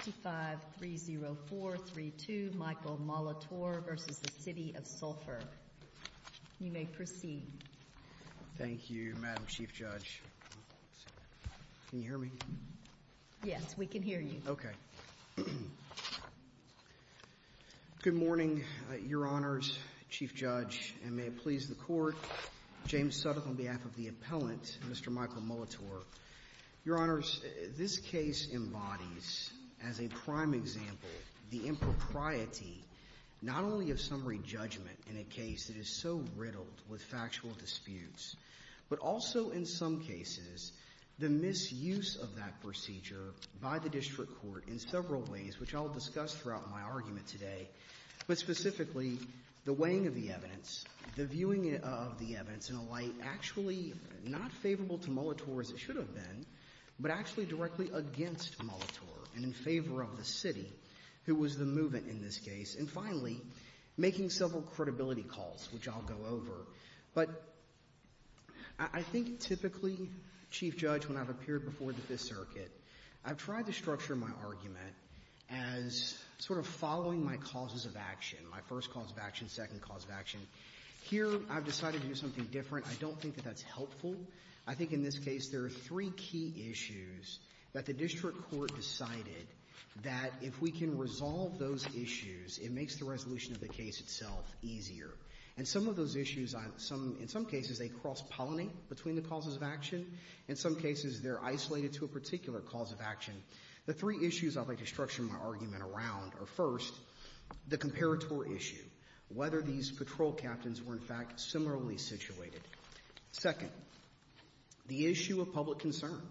Thank you, Madam Chief Judge. Can you hear me? Yes, we can hear you. Okay. Good morning, Your Honors, Chief Judge, and may it please the Court. James Suttle on behalf of the Appellant, Mr. Michael Molitor, Your Honors, this case embodies, as a prime example, the impropriety not only of summary judgment in a case that is so riddled with factual disputes, but also in some cases the misuse of that procedure by the district court in several ways, which I'll discuss throughout my argument today, but specifically the weighing of the to Molitor as it should have been, but actually directly against Molitor and in favor of the City, who was the movement in this case, and finally, making several credibility calls, which I'll go over. But I think typically, Chief Judge, when I've appeared before the Fifth Circuit, I've tried to structure my argument as sort of following my causes of action, my first cause of action, second cause of action. Here, I've decided to do something different. I don't think that that's helpful. I think in this case, there are three key issues that the district court decided that if we can resolve those issues, it makes the resolution of the case itself easier. And some of those issues, in some cases, they cross-pollinate between the causes of action. In some cases, they're isolated to a particular cause of action. The three issues I'd like to structure my argument around are, first, the comparator issue, whether these patrol captains were, in fact, similarly situated. Second, the issue of public concern.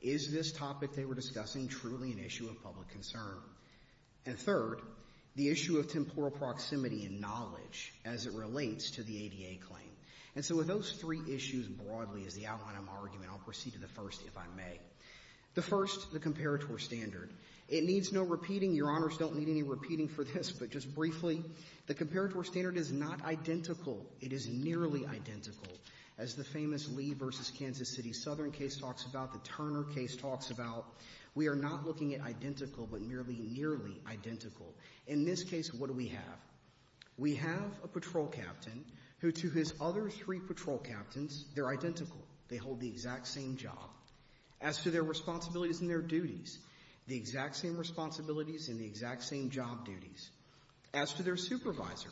Is this topic they were discussing truly an issue of public concern? And third, the issue of temporal proximity and knowledge as it relates to the ADA claim. And so with those three issues broadly as the outline of my argument, I'll proceed to the first, if I may. The first, the comparator standard. It needs no repeating. Your Honors don't need any repeating for this, but just briefly, the comparator standard is not identical. It is nearly identical. As the famous Lee versus Kansas City Southern case talks about, the Turner case talks about, we are not looking at identical, but nearly, nearly identical. In this case, what do we have? We have a patrol captain who, to his other three patrol captains, they're identical. They hold the exact same job. As to their responsibilities and their duties, the exact same responsibilities and the exact same job duties. As to their supervisor,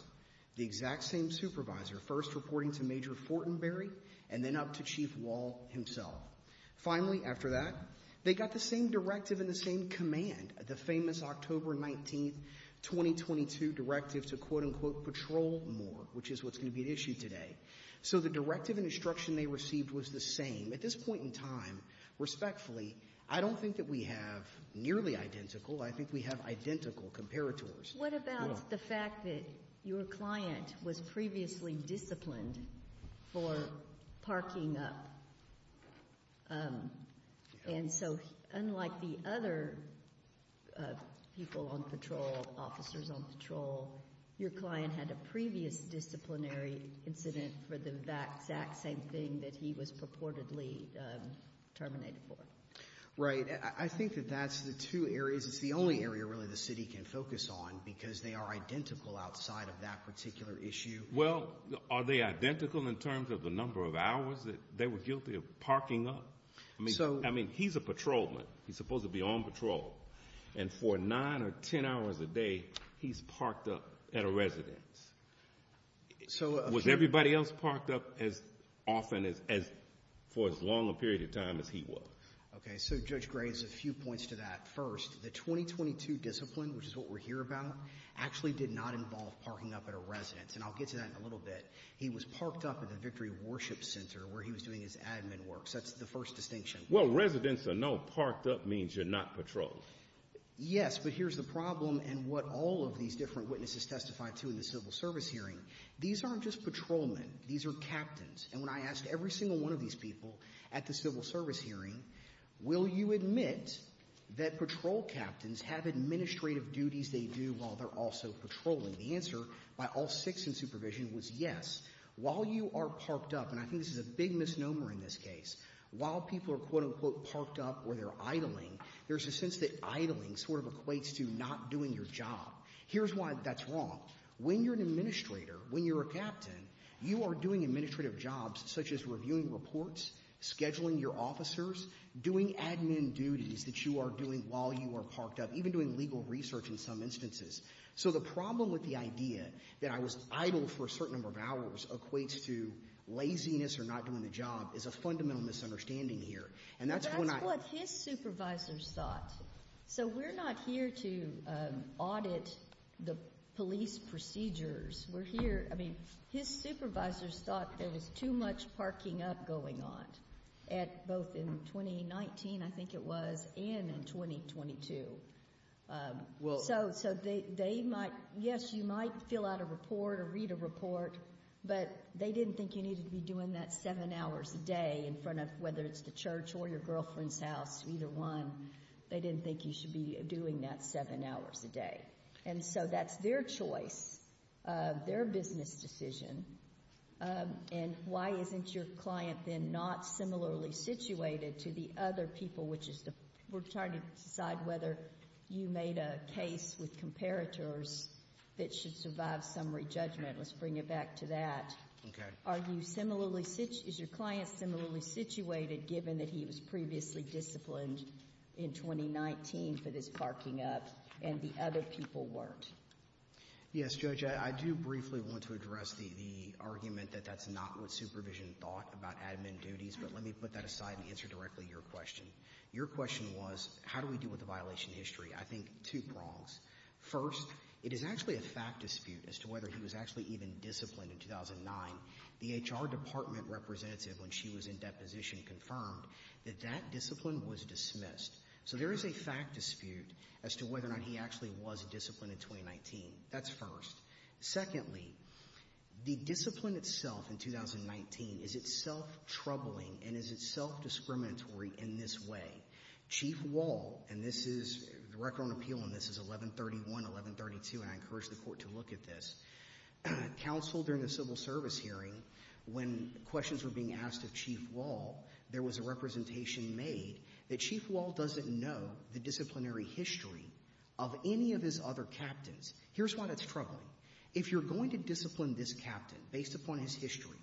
the exact same supervisor, first reporting to Major Fortenberry and then up to Chief Wall himself. Finally, after that, they got the same directive and the same command, the famous October 19, 2022 directive to, quote, unquote, patrol more, which is what's going to be at issue today. So the directive and instruction they received was the same. At this point in time, respectfully, I don't think that we have nearly identical. I think we have identical comparators. What about the fact that your client was previously disciplined for parking up? And so unlike the other people on patrol, officers on patrol, your client had a previous disciplinary incident for the exact same thing that he was purportedly terminated for. Right. I think that that's the two areas. It's the only area, really, the city can focus on because they are identical outside of that particular issue. Well, are they identical in terms of the number of hours that they were guilty of parking up? I mean, he's a patrolman. He's supposed to be on patrol. And for nine or ten hours a day, he's parked up at a residence. So was everybody else parked up as often as for as long a period of time as he was? Okay. So Judge Gray has a few points to that. First, the 2022 discipline, which is what we're here about, actually did not involve parking up at a residence. And I'll get to that in a little bit. He was parked up at the Victory Worship Center where he was doing his admin work. So that's the first distinction. Well, residence or no parked up means you're not patrolled. Yes, but here's the problem and what all of these different witnesses testified to in the civil service hearing. These aren't just patrolmen. These are captains. And when I asked every single one of these people at the civil service hearing, will you admit that patrol captains have administrative duties they do while they're also patrolling, the answer by all six in supervision was yes. While you are parked up, and I think this is a big misnomer in this case, while people are quote-unquote parked up or they're idling, there's a sense that idling sort of equates to not doing your job. Here's why that's wrong. When you're an administrator, when you're a captain, you are doing administrative jobs such as reviewing reports, scheduling your officers, doing admin duties that you are doing while you are parked up, even doing legal research in some instances. So the problem with the idea that I was idle for a certain number of hours equates to laziness or not doing the job is a fundamental misunderstanding here. That's what his supervisors thought. So we're not here to audit the police procedures. We're here, I mean, his supervisors thought there was too much parking up going on both in 2019, I think it was, and in 2022. So they might, yes, you might fill out a report or read a report, but they didn't think you needed to be doing that seven hours a day in front of, whether it's the church or your girlfriend's house, either one, they didn't think you should be doing that seven hours a day. And so that's their choice, their business decision, and why isn't your client then not similarly situated to the other people, which we're trying to decide whether you made a case with comparators that should survive summary judgment. Let's bring it back to that. Are you similarly, is your client similarly situated given that he was previously disciplined in 2019 for this parking up and the other people weren't? Yes, Judge, I do briefly want to address the argument that that's not what supervision thought about admin duties, but let me put that aside and answer directly your question. Your question was, how do we deal with the violation history? I think two prongs. First, it is actually a fact dispute as to whether he was actually even disciplined in 2009. The HR department representative, when she was in deposition, confirmed that that discipline was dismissed. So there is a fact dispute as to whether or not he actually was disciplined in 2019. That's first. Secondly, the discipline itself in 2019, is it self-troubling and is it self-discriminatory in this way? Chief Wall, and this is, the record on appeal on this is 1131, 1132, and I encourage the court to look at this. Counsel, during the civil service hearing, when questions were being asked of Chief Wall, there was a representation made that Chief Wall doesn't know the disciplinary history of any of his other captains. Here's why that's troubling. If you're going to discipline this captain based upon his history,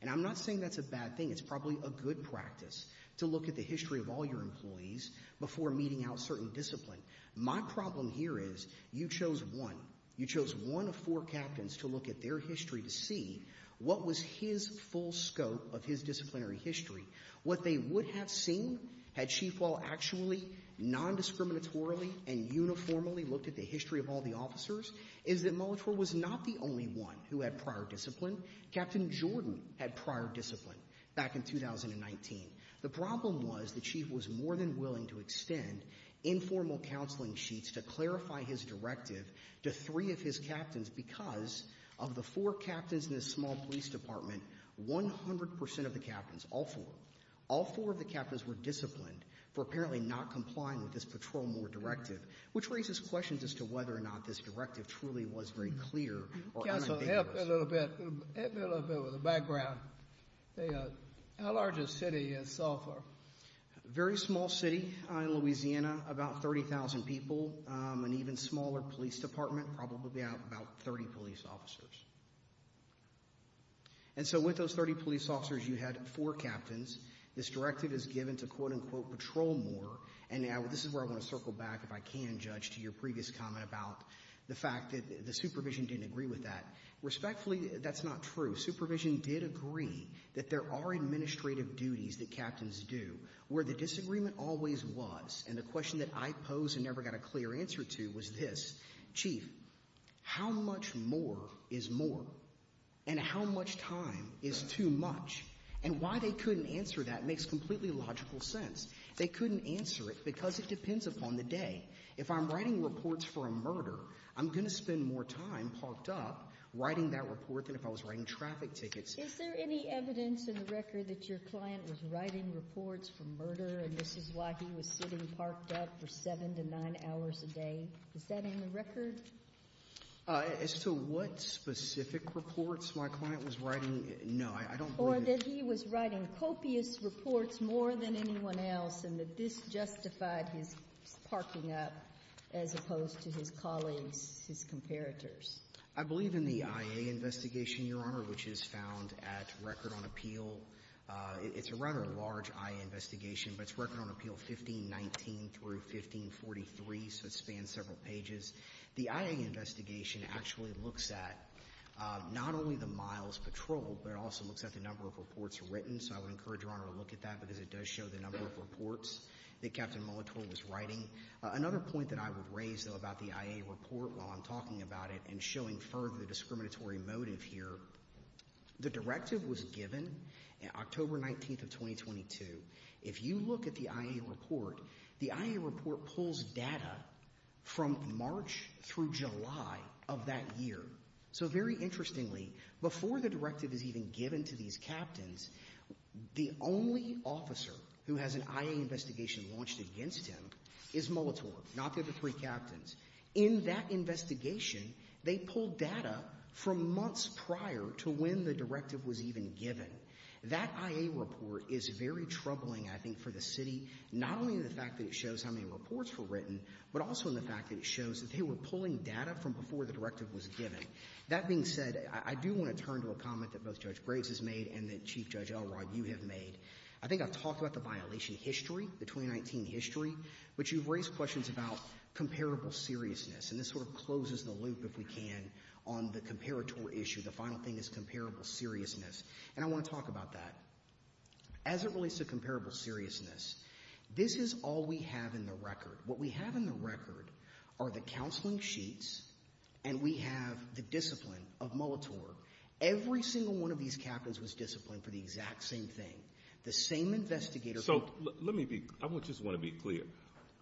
and I'm not saying that's a bad thing, it's probably a good practice to look at the history of all your employees before meeting out certain discipline. My problem here is, you chose one. You chose one of four captains to look at their history to see what was his full scope of his disciplinary history. What they would have seen had Chief Wall actually non-discriminatorily and uniformly looked at the history of all the officers, is that Molitor was not the only one who had prior discipline. Captain Jordan had prior discipline back in 2019. The problem was the chief was more than willing to extend informal counseling sheets to clarify his directive to three of his captains because of the four captains in the small police department, 100% of the captains, all four, all four of the captains were disciplined for apparently not complying with this patrol more directive, which raises questions as to whether or not this directive truly was very clear or unambiguous. Counsel, help me a little bit with the background. How large a city is Salford? Very small city in Louisiana, about 30,000 people, an even smaller police department, probably about 30 police officers. And so with those 30 police officers, you had four captains. This directive is given to quote-unquote patrol more, and this is where I want to circle back if I can, Judge, to your previous comment about the fact that the supervision didn't agree with that. Respectfully, that's not true. Supervision did agree that there are administrative duties that captains do. Where the disagreement always was, and the question that I posed and never got a clear answer to was this. Chief, how much more is more? And how much time is too much? And why couldn't answer that makes completely logical sense. They couldn't answer it because it depends upon the day. If I'm writing reports for a murder, I'm going to spend more time parked up writing that report than if I was writing traffic tickets. Is there any evidence in the record that your client was writing reports for murder and this is why he was sitting parked up for seven to nine hours a day? Is that in the record? As to what specific reports my client was writing, no, I don't believe it. Or that he was writing copious reports more than anyone else and that this justified his parking up as opposed to his colleagues, his comparators? I believe in the IA investigation, Your Honor, which is found at Record on Appeal. It's a rather large IA investigation, but it's Record on Appeal 1519 through 1543, so it spans several pages. The IA investigation actually looks at not only the miles patrolled, but it also looks at the number of reports written, so I would encourage Your Honor to look at that because it does show the number of reports that Captain Molitor was writing. Another point that I would raise, though, about the IA report while I'm talking about it and showing further the discriminatory motive here, the directive was given on October 19th of 2022. If you look at the IA report, the IA report pulls data from March through July of that year. So very interestingly, before the directive is even given to these captains, the only officer who has an IA investigation launched against him is Molitor, not the other three captains. In that investigation, they pulled data from months prior to when the directive was even given. That IA report is very troubling, I think, for the city, not only in the fact that it shows how many reports were written, but also in the fact that it shows that they were pulling data from before the directive was given. That being said, I do want to turn to a comment that both Judge Graves has made and that Chief Judge Elrod, you have made. I think I've talked about the violation history, the 2019 history, but you've raised questions about comparable seriousness, and this sort of closes the loop, if we can, on the comparator issue. The final thing is comparable seriousness, and I want to talk about that. As it relates to comparable seriousness, this is all we have in the record. What we have in the record are the counseling sheets, and we have the discipline of Molitor. Every single one of these captains was disciplined for the exact same thing. The same investigator... So let me be... I just want to be clear.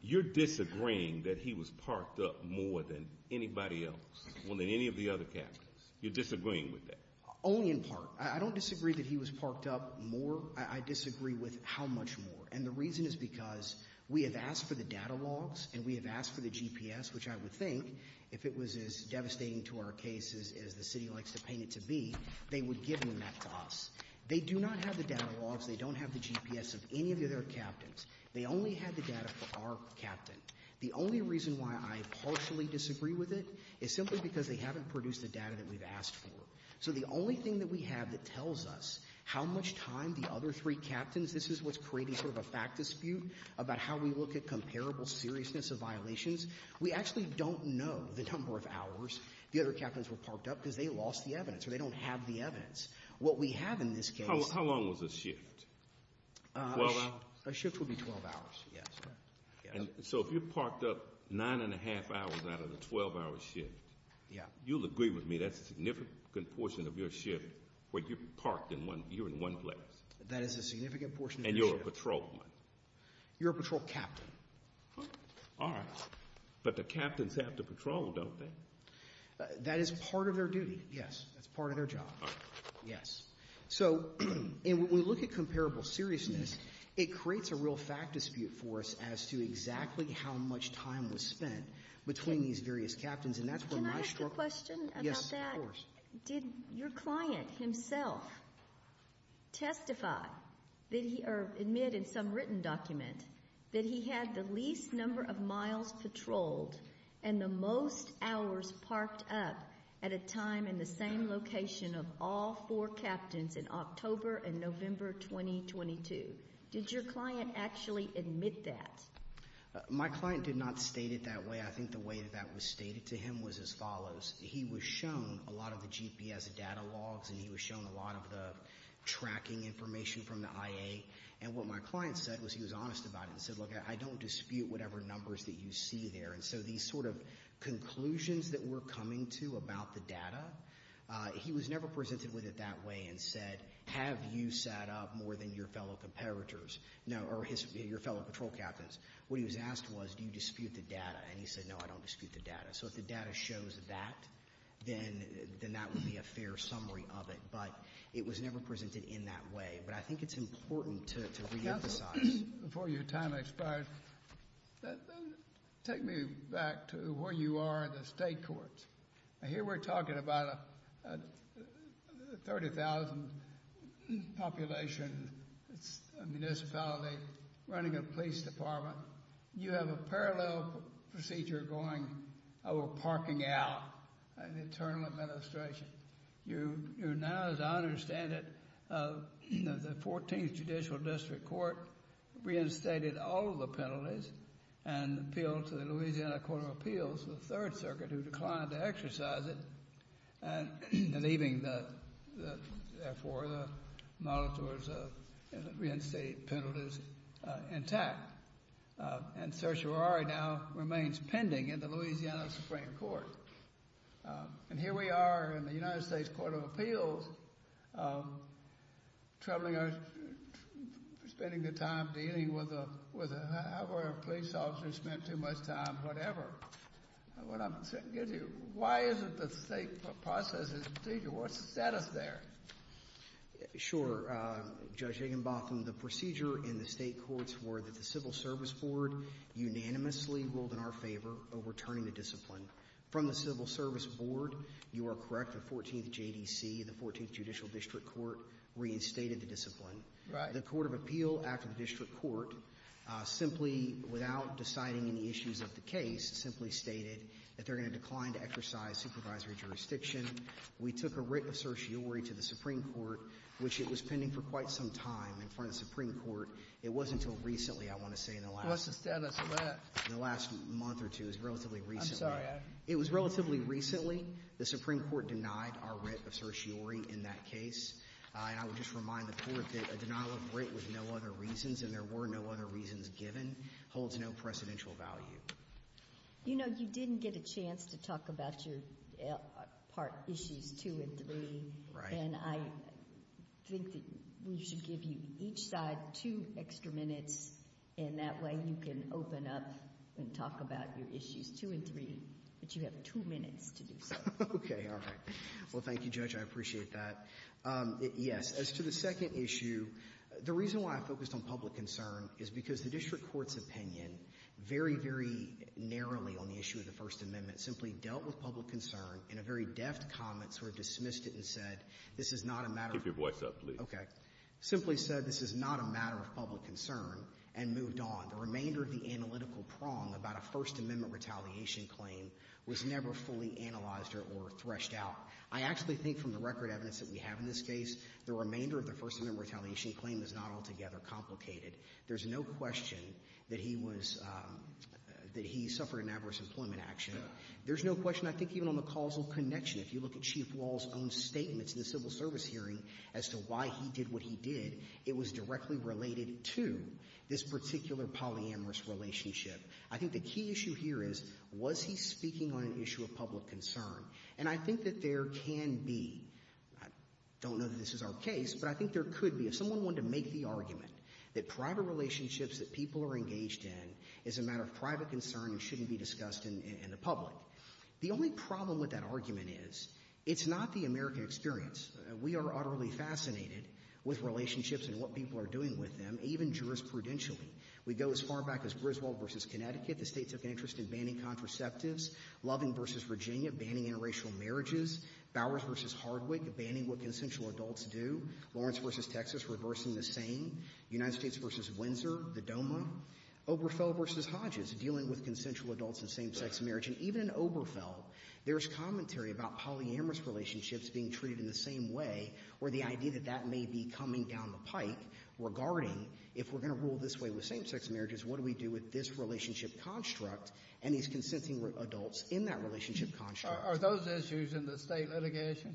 You're disagreeing that he was parked up more than anybody else, more than any of the other captains. You're disagreeing with that. Only in part. I don't disagree that he was parked up more. I disagree with how much more, and the reason is because we have asked for the data logs and we have asked for the GPS, which I would think, if it was as devastating to our case as the City likes to paint it to be, they would give them that to us. They do not have the data logs. They don't have the GPS of any of the other captains. They only had the data for our captain. The only reason why I partially disagree with it is simply because they haven't produced the data that we've asked for. So the only thing that we have that tells us how much time the other three captains... This is what's creating sort of a fact dispute about how we look at comparable seriousness of violations. We actually don't know the number of hours the other captains were parked up because they lost the evidence or they don't have the evidence. What we have in this case... How long was the shift? A shift would be 12 hours, yes. So if you're parked up nine and a half hours out of the 12-hour shift, you'll agree with me that's a significant portion of your shift where you're parked in one, you're in one place. That is a significant portion. And you're a patrolman. You're a patrol captain. All right, but the captains have to patrol, don't they? That is part of their duty, yes. That's part of their job, yes. So when we look at comparable seriousness, it creates a real fact dispute for us as to exactly how much time was spent between these various captains. Can I ask a question about that? Yes, of course. Did your client himself testify or admit in some written document that he had the least number of miles patrolled and the most hours parked up at a time in the same location of all four captains in October and November 2022? Did your client actually admit that? My client did not state it that way. I think the way that that was stated to him was as follows. He was shown a lot of the GPS data logs and he was shown a lot of the tracking information from the IA. And what my client said was he was there. And so these sort of conclusions that we're coming to about the data, he was never presented with it that way and said, have you sat up more than your fellow comparators or your fellow patrol captains? What he was asked was, do you dispute the data? And he said, no, I don't dispute the data. So if the data shows that, then that would be a fair summary of it. But it was never presented in that way. But I think it's important to reemphasize. Before your time expires, take me back to where you are in the state courts. Here we're talking about a 30,000 population municipality running a police department. You have a parallel procedure going over parking out an internal administration. You're now, as I understand it, the 14th Judicial District Court reinstated all of the penalties and appealed to the Louisiana Court of Appeals, the Third Circuit, who declined to exercise it, and leaving, therefore, the reinstated penalties intact. And certiorari now remains pending in the United States Court of Appeals, troubling us, spending the time dealing with, however a police officer spent too much time, whatever. What I'm saying to you, why isn't the state process and procedure, what's the status there? Sure, Judge Higginbotham, the procedure in the state courts were that the Civil Service Board unanimously ruled in our favor of returning the discipline. From the Civil Service Board, you are correct, the 14th JDC, the 14th Judicial District Court reinstated the discipline. Right. The Court of Appeal after the district court, simply without deciding any issues of the case, simply stated that they're going to decline to exercise supervisory jurisdiction. We took a writ of certiorari to the Supreme Court, which it was pending for quite some time in front of the Supreme Court. It wasn't until recently, I want to say. What's the status of that? In the last month or two, it was relatively recently. It was relatively recently. The Supreme Court denied our writ of certiorari in that case, and I would just remind the Court that a denial of writ with no other reasons, and there were no other reasons given, holds no precedential value. You know, you didn't get a chance to talk about your part issues two and three, and I think that you should give you each side two extra minutes, and that way you can open up and talk about your issues two and three, but you have two minutes to do so. Okay. All right. Well, thank you, Judge. I appreciate that. Yes. As to the second issue, the reason why I focused on public concern is because the district court's opinion very, very narrowly on the issue of the First Amendment simply dealt with public concern in a very deft comment, sort of dismissed it and said, this is not a matter of — Keep your voice up, please. Okay. Simply said, this is not a matter of public concern, and moved on. The remainder of the analytical prong about a First Amendment retaliation claim was never fully analyzed or threshed out. I actually think from the record evidence that we have in this case, the remainder of the First Amendment retaliation claim is not altogether complicated. There's no question that he was — that he suffered an adverse employment action. There's no question, I think, even on the causal connection. If you look at Chief Justice's civil service hearing as to why he did what he did, it was directly related to this particular polyamorous relationship. I think the key issue here is, was he speaking on an issue of public concern? And I think that there can be — I don't know that this is our case, but I think there could be — if someone wanted to make the argument that private relationships that people are engaged in is a matter of private concern and shouldn't be discussed in the public, the only problem with that argument is, it's not the American experience. We are utterly fascinated with relationships and what people are doing with them, even jurisprudentially. We go as far back as Griswold v. Connecticut, the States of Interest in banning contraceptives, Loving v. Virginia, banning interracial marriages, Bowers v. Hardwick, banning what consensual adults do, Lawrence v. Texas, reversing the same, United States v. Windsor, the DOMA, Oberfeld v. Hodges, dealing with consensual relationships. And in Oberfeld, there's commentary about polyamorous relationships being treated in the same way, or the idea that that may be coming down the pike regarding, if we're going to rule this way with same-sex marriages, what do we do with this relationship construct and these consensual adults in that relationship construct? Are those issues in the State litigation?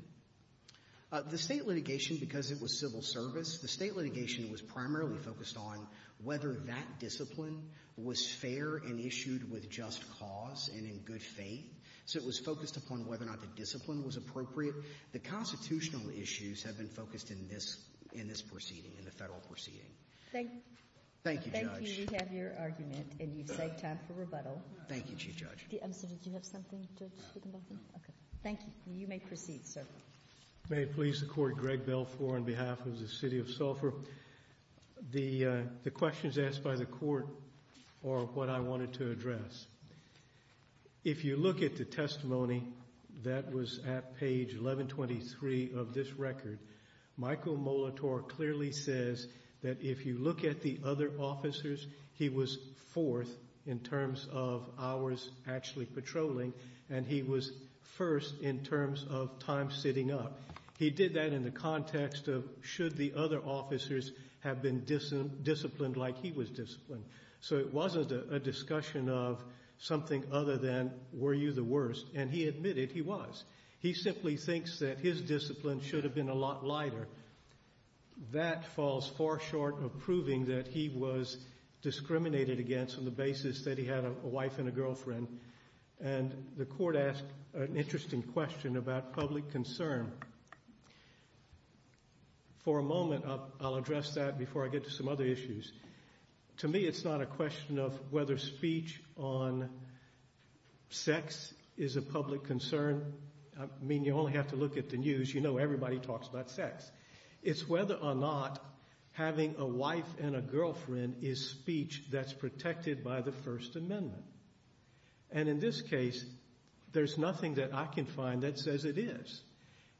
The State litigation, because it was civil service, the State litigation was primarily focused on whether that discipline was fair and issued with just cause and in good faith. So it was focused upon whether or not the discipline was appropriate. The constitutional issues have been focused in this proceeding, in the Federal proceeding. Thank you. Thank you, Judge. Thank you. We have your argument, and you've saved time for rebuttal. Thank you, Chief Judge. I'm sorry, did you have something, Judge Wittenbaum? No. Thank you. You may proceed, sir. May it please the Court, Greg Belfour on behalf of the City of Sulphur. The questions asked by the Court are what I wanted to address. If you look at the testimony that was at page 1123 of this record, Michael Molitor clearly says that if you look at the other officers, he was fourth in terms of ours actually patrolling, and he was first in terms of time sitting up. He did that in the context of should the other officers have been disciplined like he was disciplined. So it wasn't a discussion of something other than were you the worst, and he admitted he was. He simply thinks that his discipline should have been a lot lighter. That falls far short of proving that he was discriminated against on the basis that he had a wife and a girlfriend, and the Court asked an interesting question about public concern. For a moment, I'll address that before I get to some other issues. To me, it's not a question of whether speech on sex is a public concern. I mean, you only have to look at the news. You know everybody talks about sex. It's whether or not having a wife and a girlfriend is speech that's protected by the First Amendment. And in this case, there's nothing that I can find that says it is.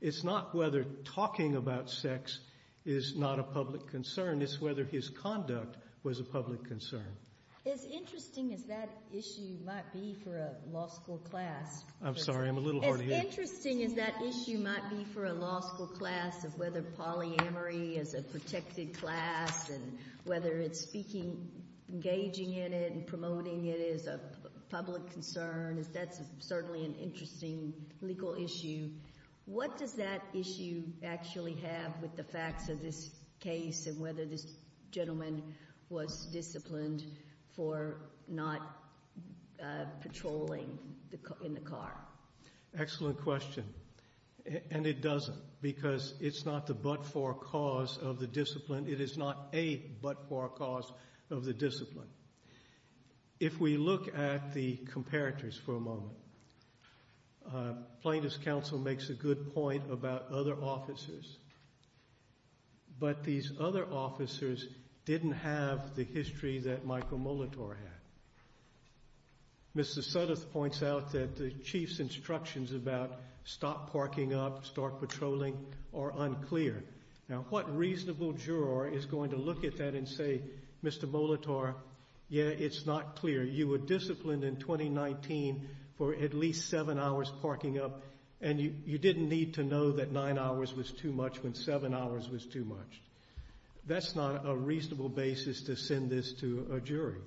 It's not whether talking about sex is not a public concern. It's whether his conduct was a public concern. As interesting as that issue might be for a law school class. I'm sorry, I'm a little hard of hearing. As interesting as that issue might be for a law school class, of whether polyamory is a protected class, whether engaging in it and promoting it is a public concern, that's certainly an interesting legal issue. What does that issue actually have with the facts of this case and whether this gentleman was disciplined for not patrolling in the car? Excellent question. And it doesn't, because it's not the but-for cause of the discipline. It is not a but-for cause of the discipline. If we look at the comparators for a moment, Plaintiffs' Council makes a good point about other officers. But these other officers didn't have the history that Michael Molitor had. Mr. Sudduth points out that the chief's instructions about stop parking up, start patrolling are unclear. Now, what reasonable juror is going to look at that and say, Mr. Molitor, yeah, it's not clear. You were disciplined in 2019 for at least seven hours parking up, and you didn't need to know that nine hours was too much when seven hours was too much. That's not a reasonable basis to send this to a jury.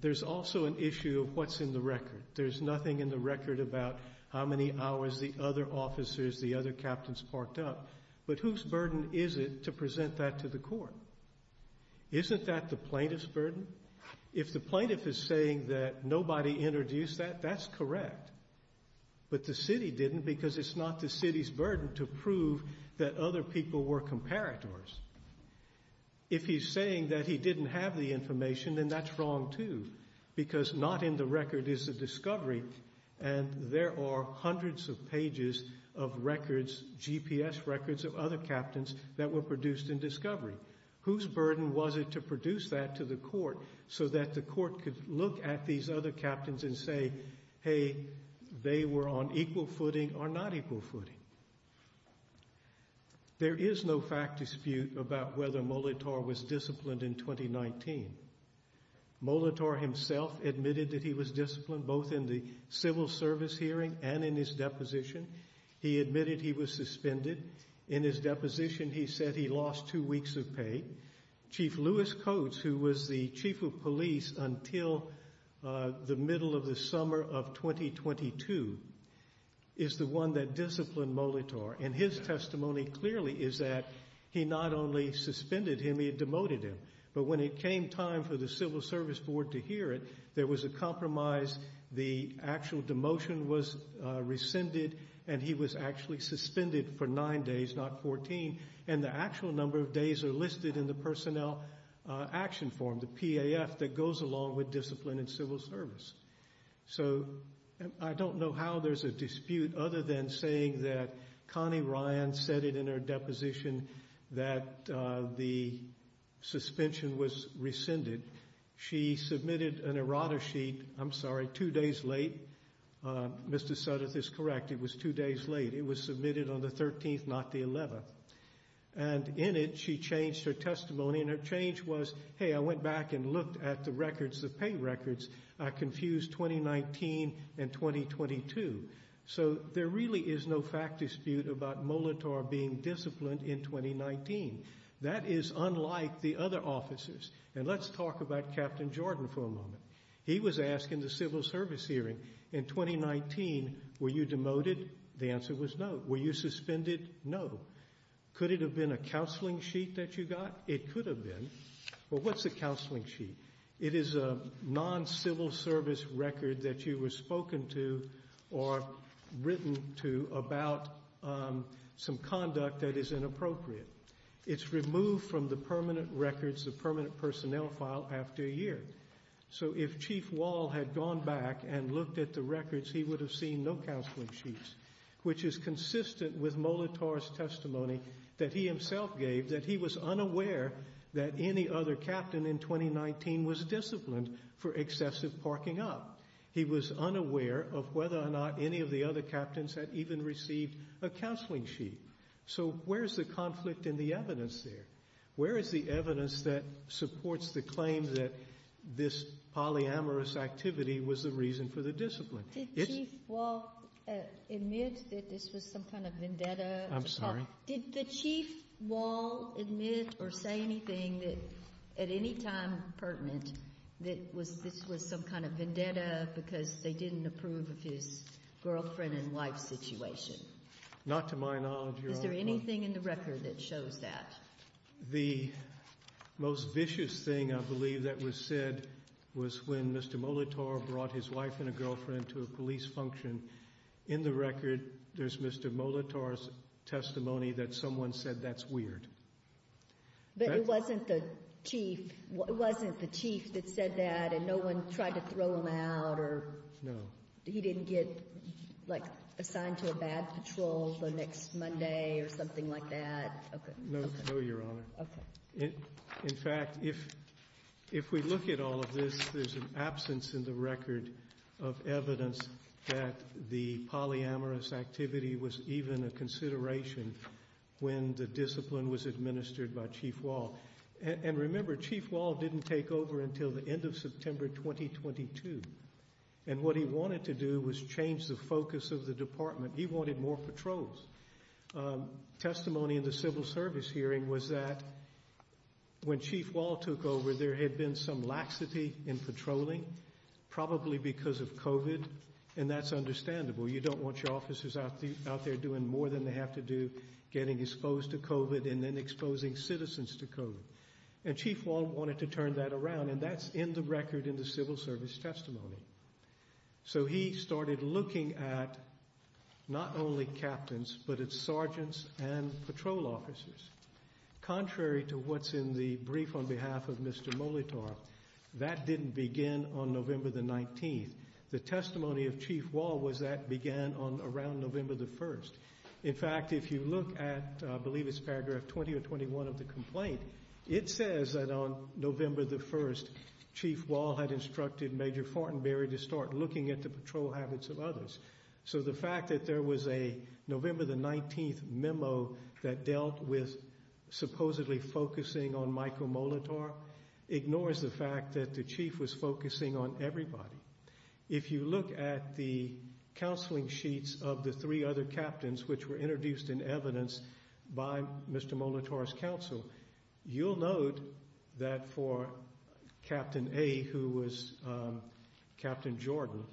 There's also an issue of what's in the record. There's nothing in the record about how many hours the other officers, the other captains parked up. But whose burden is it to present that to the court? Isn't that the plaintiff's burden? If the plaintiff is saying that nobody introduced that, that's correct. But the city didn't, because it's not the city's burden to prove that other people were comparators. If he's saying that he didn't have the information, then that's wrong, too, because not in the record is the discovery, and there are hundreds of pages of records, GPS records of other captains that were produced in discovery. Whose burden was it to produce that to the court so that the court could look at these other captains and say, hey, they were on equal footing or not equal footing? There is no fact dispute about whether Molitor was disciplined in 2019. Molitor himself admitted that he was disciplined both in the civil service hearing and in his deposition. He admitted he was suspended. In his deposition, he said he lost two weeks of pay. Chief Lewis Coates, who was the chief of police until the middle of the summer of 2022, is the one that disciplined Molitor, and his testimony clearly is that he not only suspended him, he demoted him. But when it came time for the civil service board to hear it, there was a compromise. The actual demotion was rescinded, and he was actually suspended for nine days, not 14. And the actual number of days are listed in the personnel action form, the PAF, that goes along with discipline in civil service. So I don't know how there's a dispute other than saying that Connie Ryan said it in her deposition that the suspension was rescinded. She submitted an errata sheet, I'm sorry, two days late. Mr. Sudduth is correct, it was two days late. It was submitted on the 13th, not the 11th. And in it, she changed her testimony, and her change was, hey, I went back and looked at the records, the pay records. I confused 2019 and 2022. So there really is no fact dispute about Molitor being disciplined in 2019. That is unlike the other officers. And let's talk about Captain Jordan for a moment. He was asked in the civil service hearing in 2019, were you demoted? The answer was no. Were you suspended? No. Could it have been a counseling sheet that you got? It could have been. But what's a counseling sheet? It is a non-civil service record that you were spoken to or written to about some conduct that is inappropriate. It's removed from the permanent records, the permanent personnel file, after a year. So if Chief Wall had gone back and looked at the records, he would have seen no counseling sheets, which is consistent with Molitor's testimony that he himself gave, that he was unaware that any other captain in 2019 was disciplined for excessive parking up. He was unaware of whether or not any of the other captains had even received a counseling sheet. So where is the conflict in the evidence there? Where is the evidence that supports the claim that this polyamorous activity was the reason for the discipline? Did Chief Wall admit that this was some kind of vendetta? I'm sorry? Did the Chief Wall admit or say anything that at any time pertinent that this was some kind of vendetta because they didn't approve of his girlfriend and wife situation? Not to my knowledge, Your Honor. Is there anything in the record that shows that? The most vicious thing, I believe, that was said was when Mr. Molitor brought his wife and a girlfriend to a police function. In the record, there's Mr. Molitor's testimony that someone said, that's weird. But it wasn't the chief that said that and no one tried to throw him out? No. He didn't get assigned to a bad patrol the next Monday or something like that? No, Your Honor. In fact, if we look at all of this, there's an absence in the record of evidence that the polyamorous activity was even a consideration when the discipline was administered by Chief Wall. And remember, Chief Wall didn't take over until the end of September 2022. And what he wanted to do was change the focus of the department. He wanted more patrols. Testimony in the civil service hearing was that when Chief Wall took over, there had been some laxity in patrolling, probably because of COVID. And that's understandable. You don't want your officers out there doing more than they have to do getting exposed to COVID and then exposing citizens to COVID. And Chief Wall wanted to turn that around. And that's in the record in the civil service testimony. So he started looking at not only captains, but at sergeants and patrol officers. Contrary to what's in the brief on behalf of Mr. Molitor, that didn't begin on November the 19th. The testimony of Chief Wall was that began on around November the 1st. In fact, if you look at, I believe it's paragraph 20 or 21 of the complaint, it says that on November the 1st, Chief Wall had instructed Major Fortenberry to start looking at the patrol habits of others. So the fact that there was a November the 19th memo that dealt with supposedly focusing on Michael Molitor ignores the fact that the chief was focusing on everybody. If you look at the counseling sheets of the three other captains, which were introduced in evidence by Mr. Molitor's counsel, you'll note that for Captain A, who was Captain Jordan,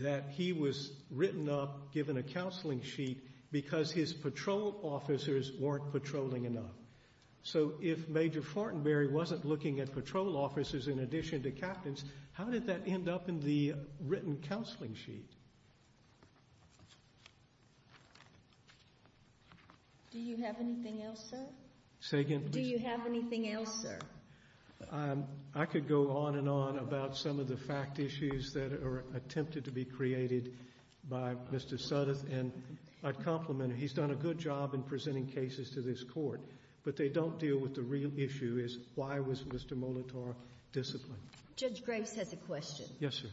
that he was written up, given a counseling sheet because his patrol officers weren't patrolling enough. So if Major Fortenberry wasn't looking at patrol officers in addition to captains, how did that end up in the written counseling sheet? Do you have anything else, sir? Say again, please. Do you have anything else, sir? I could go on and on about some of the fact issues that are attempted to be created by Mr. Sudduth, and I'd compliment him. He's done a good job in presenting cases to this court, but they don't deal with the real issue, is why was Mr. Molitor disciplined? Judge Graves has a question. Yes, sir.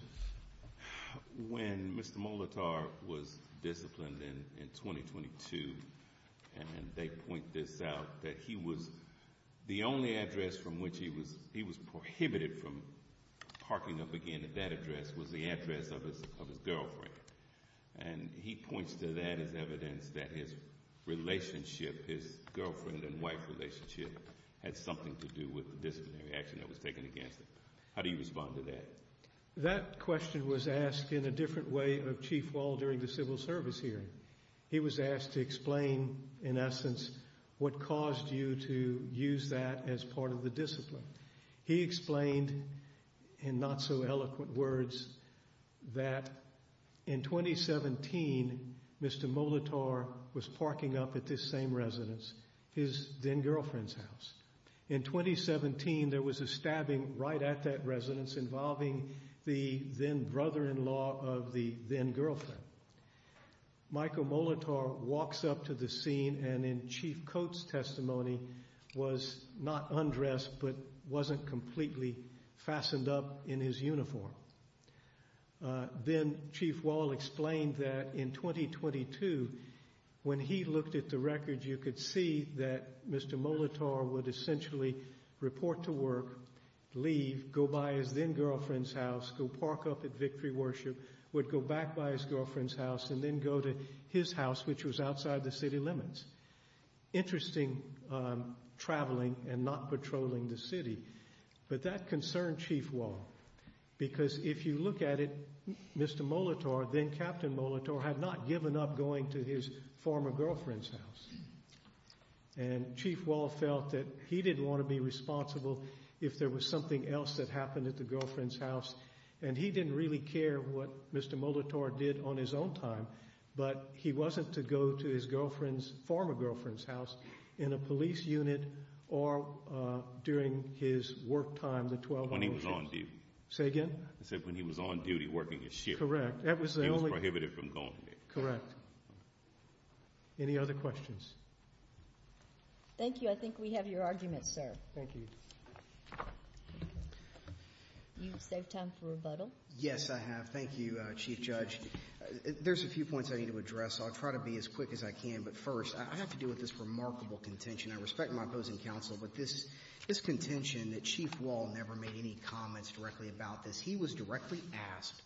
When Mr. Molitor was disciplined in 2022, and they point this out, that he was the only address from which he was prohibited from parking up again at that address was the address of his girlfriend. And he points to that as evidence that his relationship, his girlfriend and wife relationship, had something to do with the disciplinary action that was taken against him. How do you respond to that? That question was asked in a different way of Chief Wall during the civil service hearing. He was asked to explain, in essence, what caused you to use that as part of the discipline. He explained in not so eloquent words that in 2017, Mr. Molitor was parking up at this same residence, his then girlfriend's house. In 2017, there was a stabbing right at that residence involving the then brother-in-law of the then girlfriend. Michael Molitor walks up to the scene and in Chief Coates testimony was not undressed, but wasn't completely fastened up in his uniform. Then Chief Wall explained that in 2022, when he looked at the records, you could see that Mr. Molitor would essentially report to work, leave, go by his then girlfriend's house, go park up at Victory Worship, would go back by his girlfriend's house and then go to his house, which was outside the city limits. Interesting traveling and not patrolling the city. But that concerned Chief Wall because if you look at it, Mr. Molitor, then Captain Molitor, had not given up going to his former girlfriend's house. And Chief Wall felt that he didn't want to be responsible if there was something else that happened at the girlfriend's house. And he didn't really care what Mr. Molitor did on his own time, but he wasn't to go to his girlfriend's, former girlfriend's house in a police unit or during his work time, the 12 o'clock shift. When he was on duty. Say again? He said when he was on duty working his shift. Correct. He was prohibited from going there. Correct. Any other questions? Thank you. I think we have your argument, sir. Thank you. You saved time for rebuttal. Yes, I have. Thank you, Chief Judge. There's a few points I need to address. I'll try to be as quick as I can. But first, I have to do with this remarkable contention. I respect my opposing counsel, but this contention that Chief Wall never made any comments directly about this. He was directly asked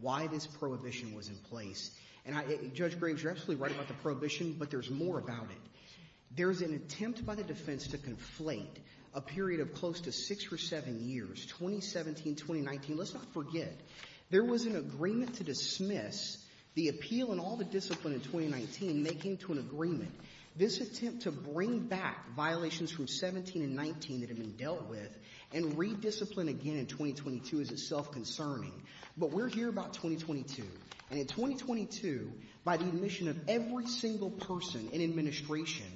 why this prohibition was in place. And Judge Graves, you're absolutely right about the prohibition, but there's more about it. There's an attempt by the defense to conflate a period of close to six or seven years, 2017, 2019. Let's not forget, there was an agreement to dismiss the appeal and all the discipline in 2019. They came to an agreement. This attempt to bring back violations from 17 and 19 that have been dealt with and re-discipline again in 2022 is itself concerning. But we're here about 2022. And in 2022, by the admission of every single person in administration,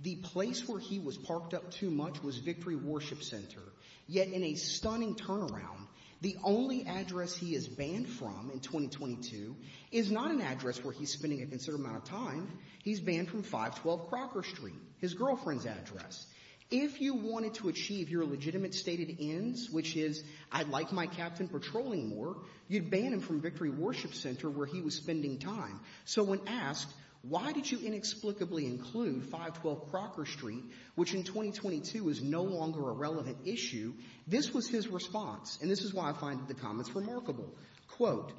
the place where he was parked up too much was Victory Worship Center. Yet in a stunning turnaround, the only address he is banned from in 2022 is not an address where he's spending a considerable amount of time. He's banned from 512 Crocker Street, his girlfriend's address. If you wanted to achieve your legitimate stated ends, which is, I'd like my captain patrolling more, you'd ban him from Victory Worship Center where he was spending time. So when asked, why did you inexplicably include 512 Crocker Street, which in 2022 is no longer a relevant issue, this was his response. And this is why I find the comments remarkable. Quote,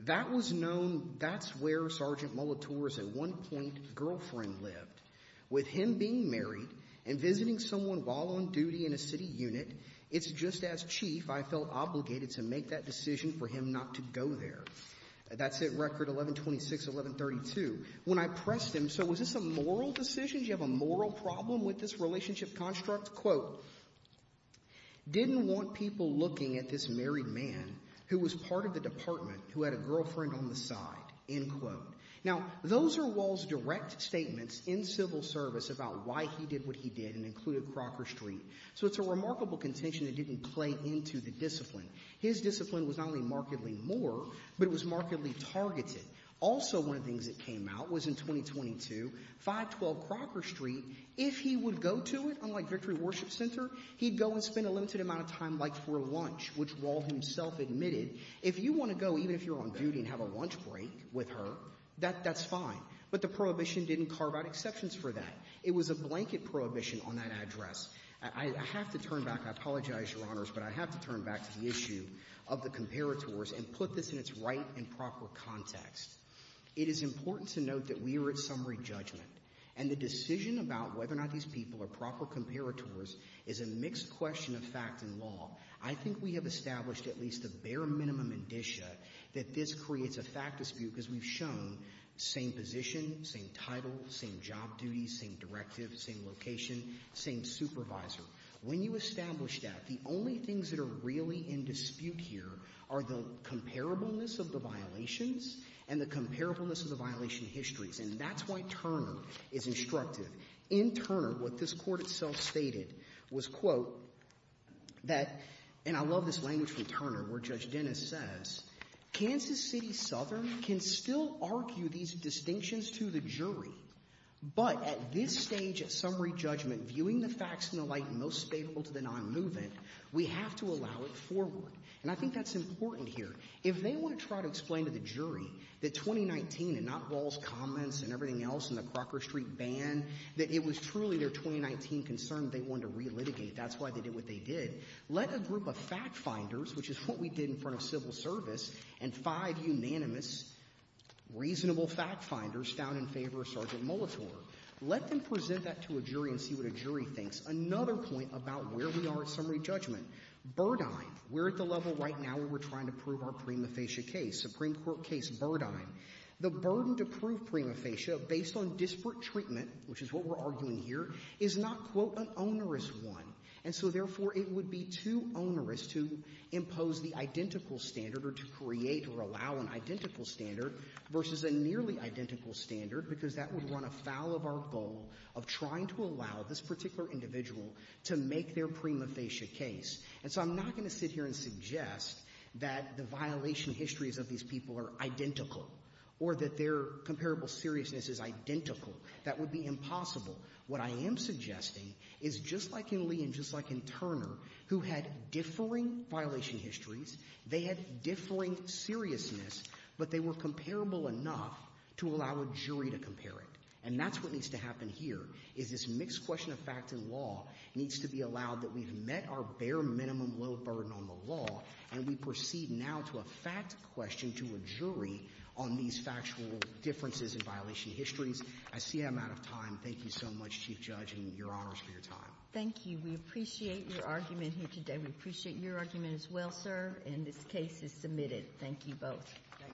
that was known, that's where Sergeant Molitor's at one point girlfriend lived. With him being married and visiting someone while on duty in a city unit, it's just as chief, I felt obligated to make that decision for him not to go there. That's it, record 1126, 1132. When I pressed him, so was this a moral decision? Do you have a moral problem with this relationship construct? Quote, didn't want people looking at this married man who was part of the department, who had a girlfriend on the side, end quote. Now, those are Wall's direct statements in civil service about why he did what he did and included Crocker Street. So it's a remarkable contention that didn't play into the discipline. His discipline was not only markedly more, but it was markedly targeted. Also, one of the things that came out was in 2022, 512 Crocker Street, if he would go to it, unlike Victory Worship Center, he'd go and spend a limited amount of time like for lunch, which Wall himself admitted, if you want to go, even if you're on duty and have a lunch break with her, that's fine. But the prohibition didn't carve out exceptions for that. It was a blanket prohibition on that address. I have to turn back, I apologize, Your Honors, but I have to turn back to the issue of the comparators and put this in its right and proper context. It is important to note that we are at summary judgment and the decision about whether or not these people are proper comparators is a mixed question of fact and law. I think we have established at least the bare minimum indicia that this creates a fact dispute because we've shown same position, same title, same job duties, same directive, same location, same supervisor. When you establish that, the only things that are really in dispute here are the comparableness of the violations and the comparableness of the violation histories, and that's why Turner is instructive. In Turner, what this court itself stated was, that, and I love this language from Turner, where Judge Dennis says, Kansas City Southern can still argue these distinctions to the jury, but at this stage at summary judgment, viewing the facts in the light most favorable to the non-movement, we have to allow it forward. And I think that's important here. If they want to try to explain to the jury that 2019, and not Rawls' comments and everything else in the Crocker Street ban, that it was truly their 2019 concern they wanted to relitigate, that's why they did what they did, let a group of fact finders, which is what we did in front of civil service, and five unanimous, reasonable fact finders down in favor of Sergeant Molitor, let them present that to a jury and see what a jury thinks. Another point about where we are at summary judgment, Burdine, we're at the level right now where we're trying to prove our prima facie case, Supreme Court case Burdine. The burden to prove prima facie based on disparate treatment, which is what we're arguing here, is not, quote, an onerous one. And so, therefore, it would be too onerous to impose the identical standard or to create or allow an identical standard versus a nearly identical standard, because that would run afoul of our goal of trying to allow this particular individual to make their prima facie case. And so I'm not going to sit here and suggest that the violation histories of these people are identical or that their comparable seriousness is identical. That would be impossible. What I am suggesting is just like in Lee and just like in Turner, who had differing violation histories, they had differing seriousness, but they were comparable enough to allow a jury to compare it. And that's what needs to happen here is this mixed question of fact and law needs to be allowed that we've met our bare minimum low burden on the law, and we proceed now to a fact question to a jury on these factual differences in violation histories. I see I'm out of time. Thank you so much, Chief Judge, and your honors for your time. Thank you. We appreciate your argument here today. We appreciate your argument as well, sir. And this case is submitted. Thank you both.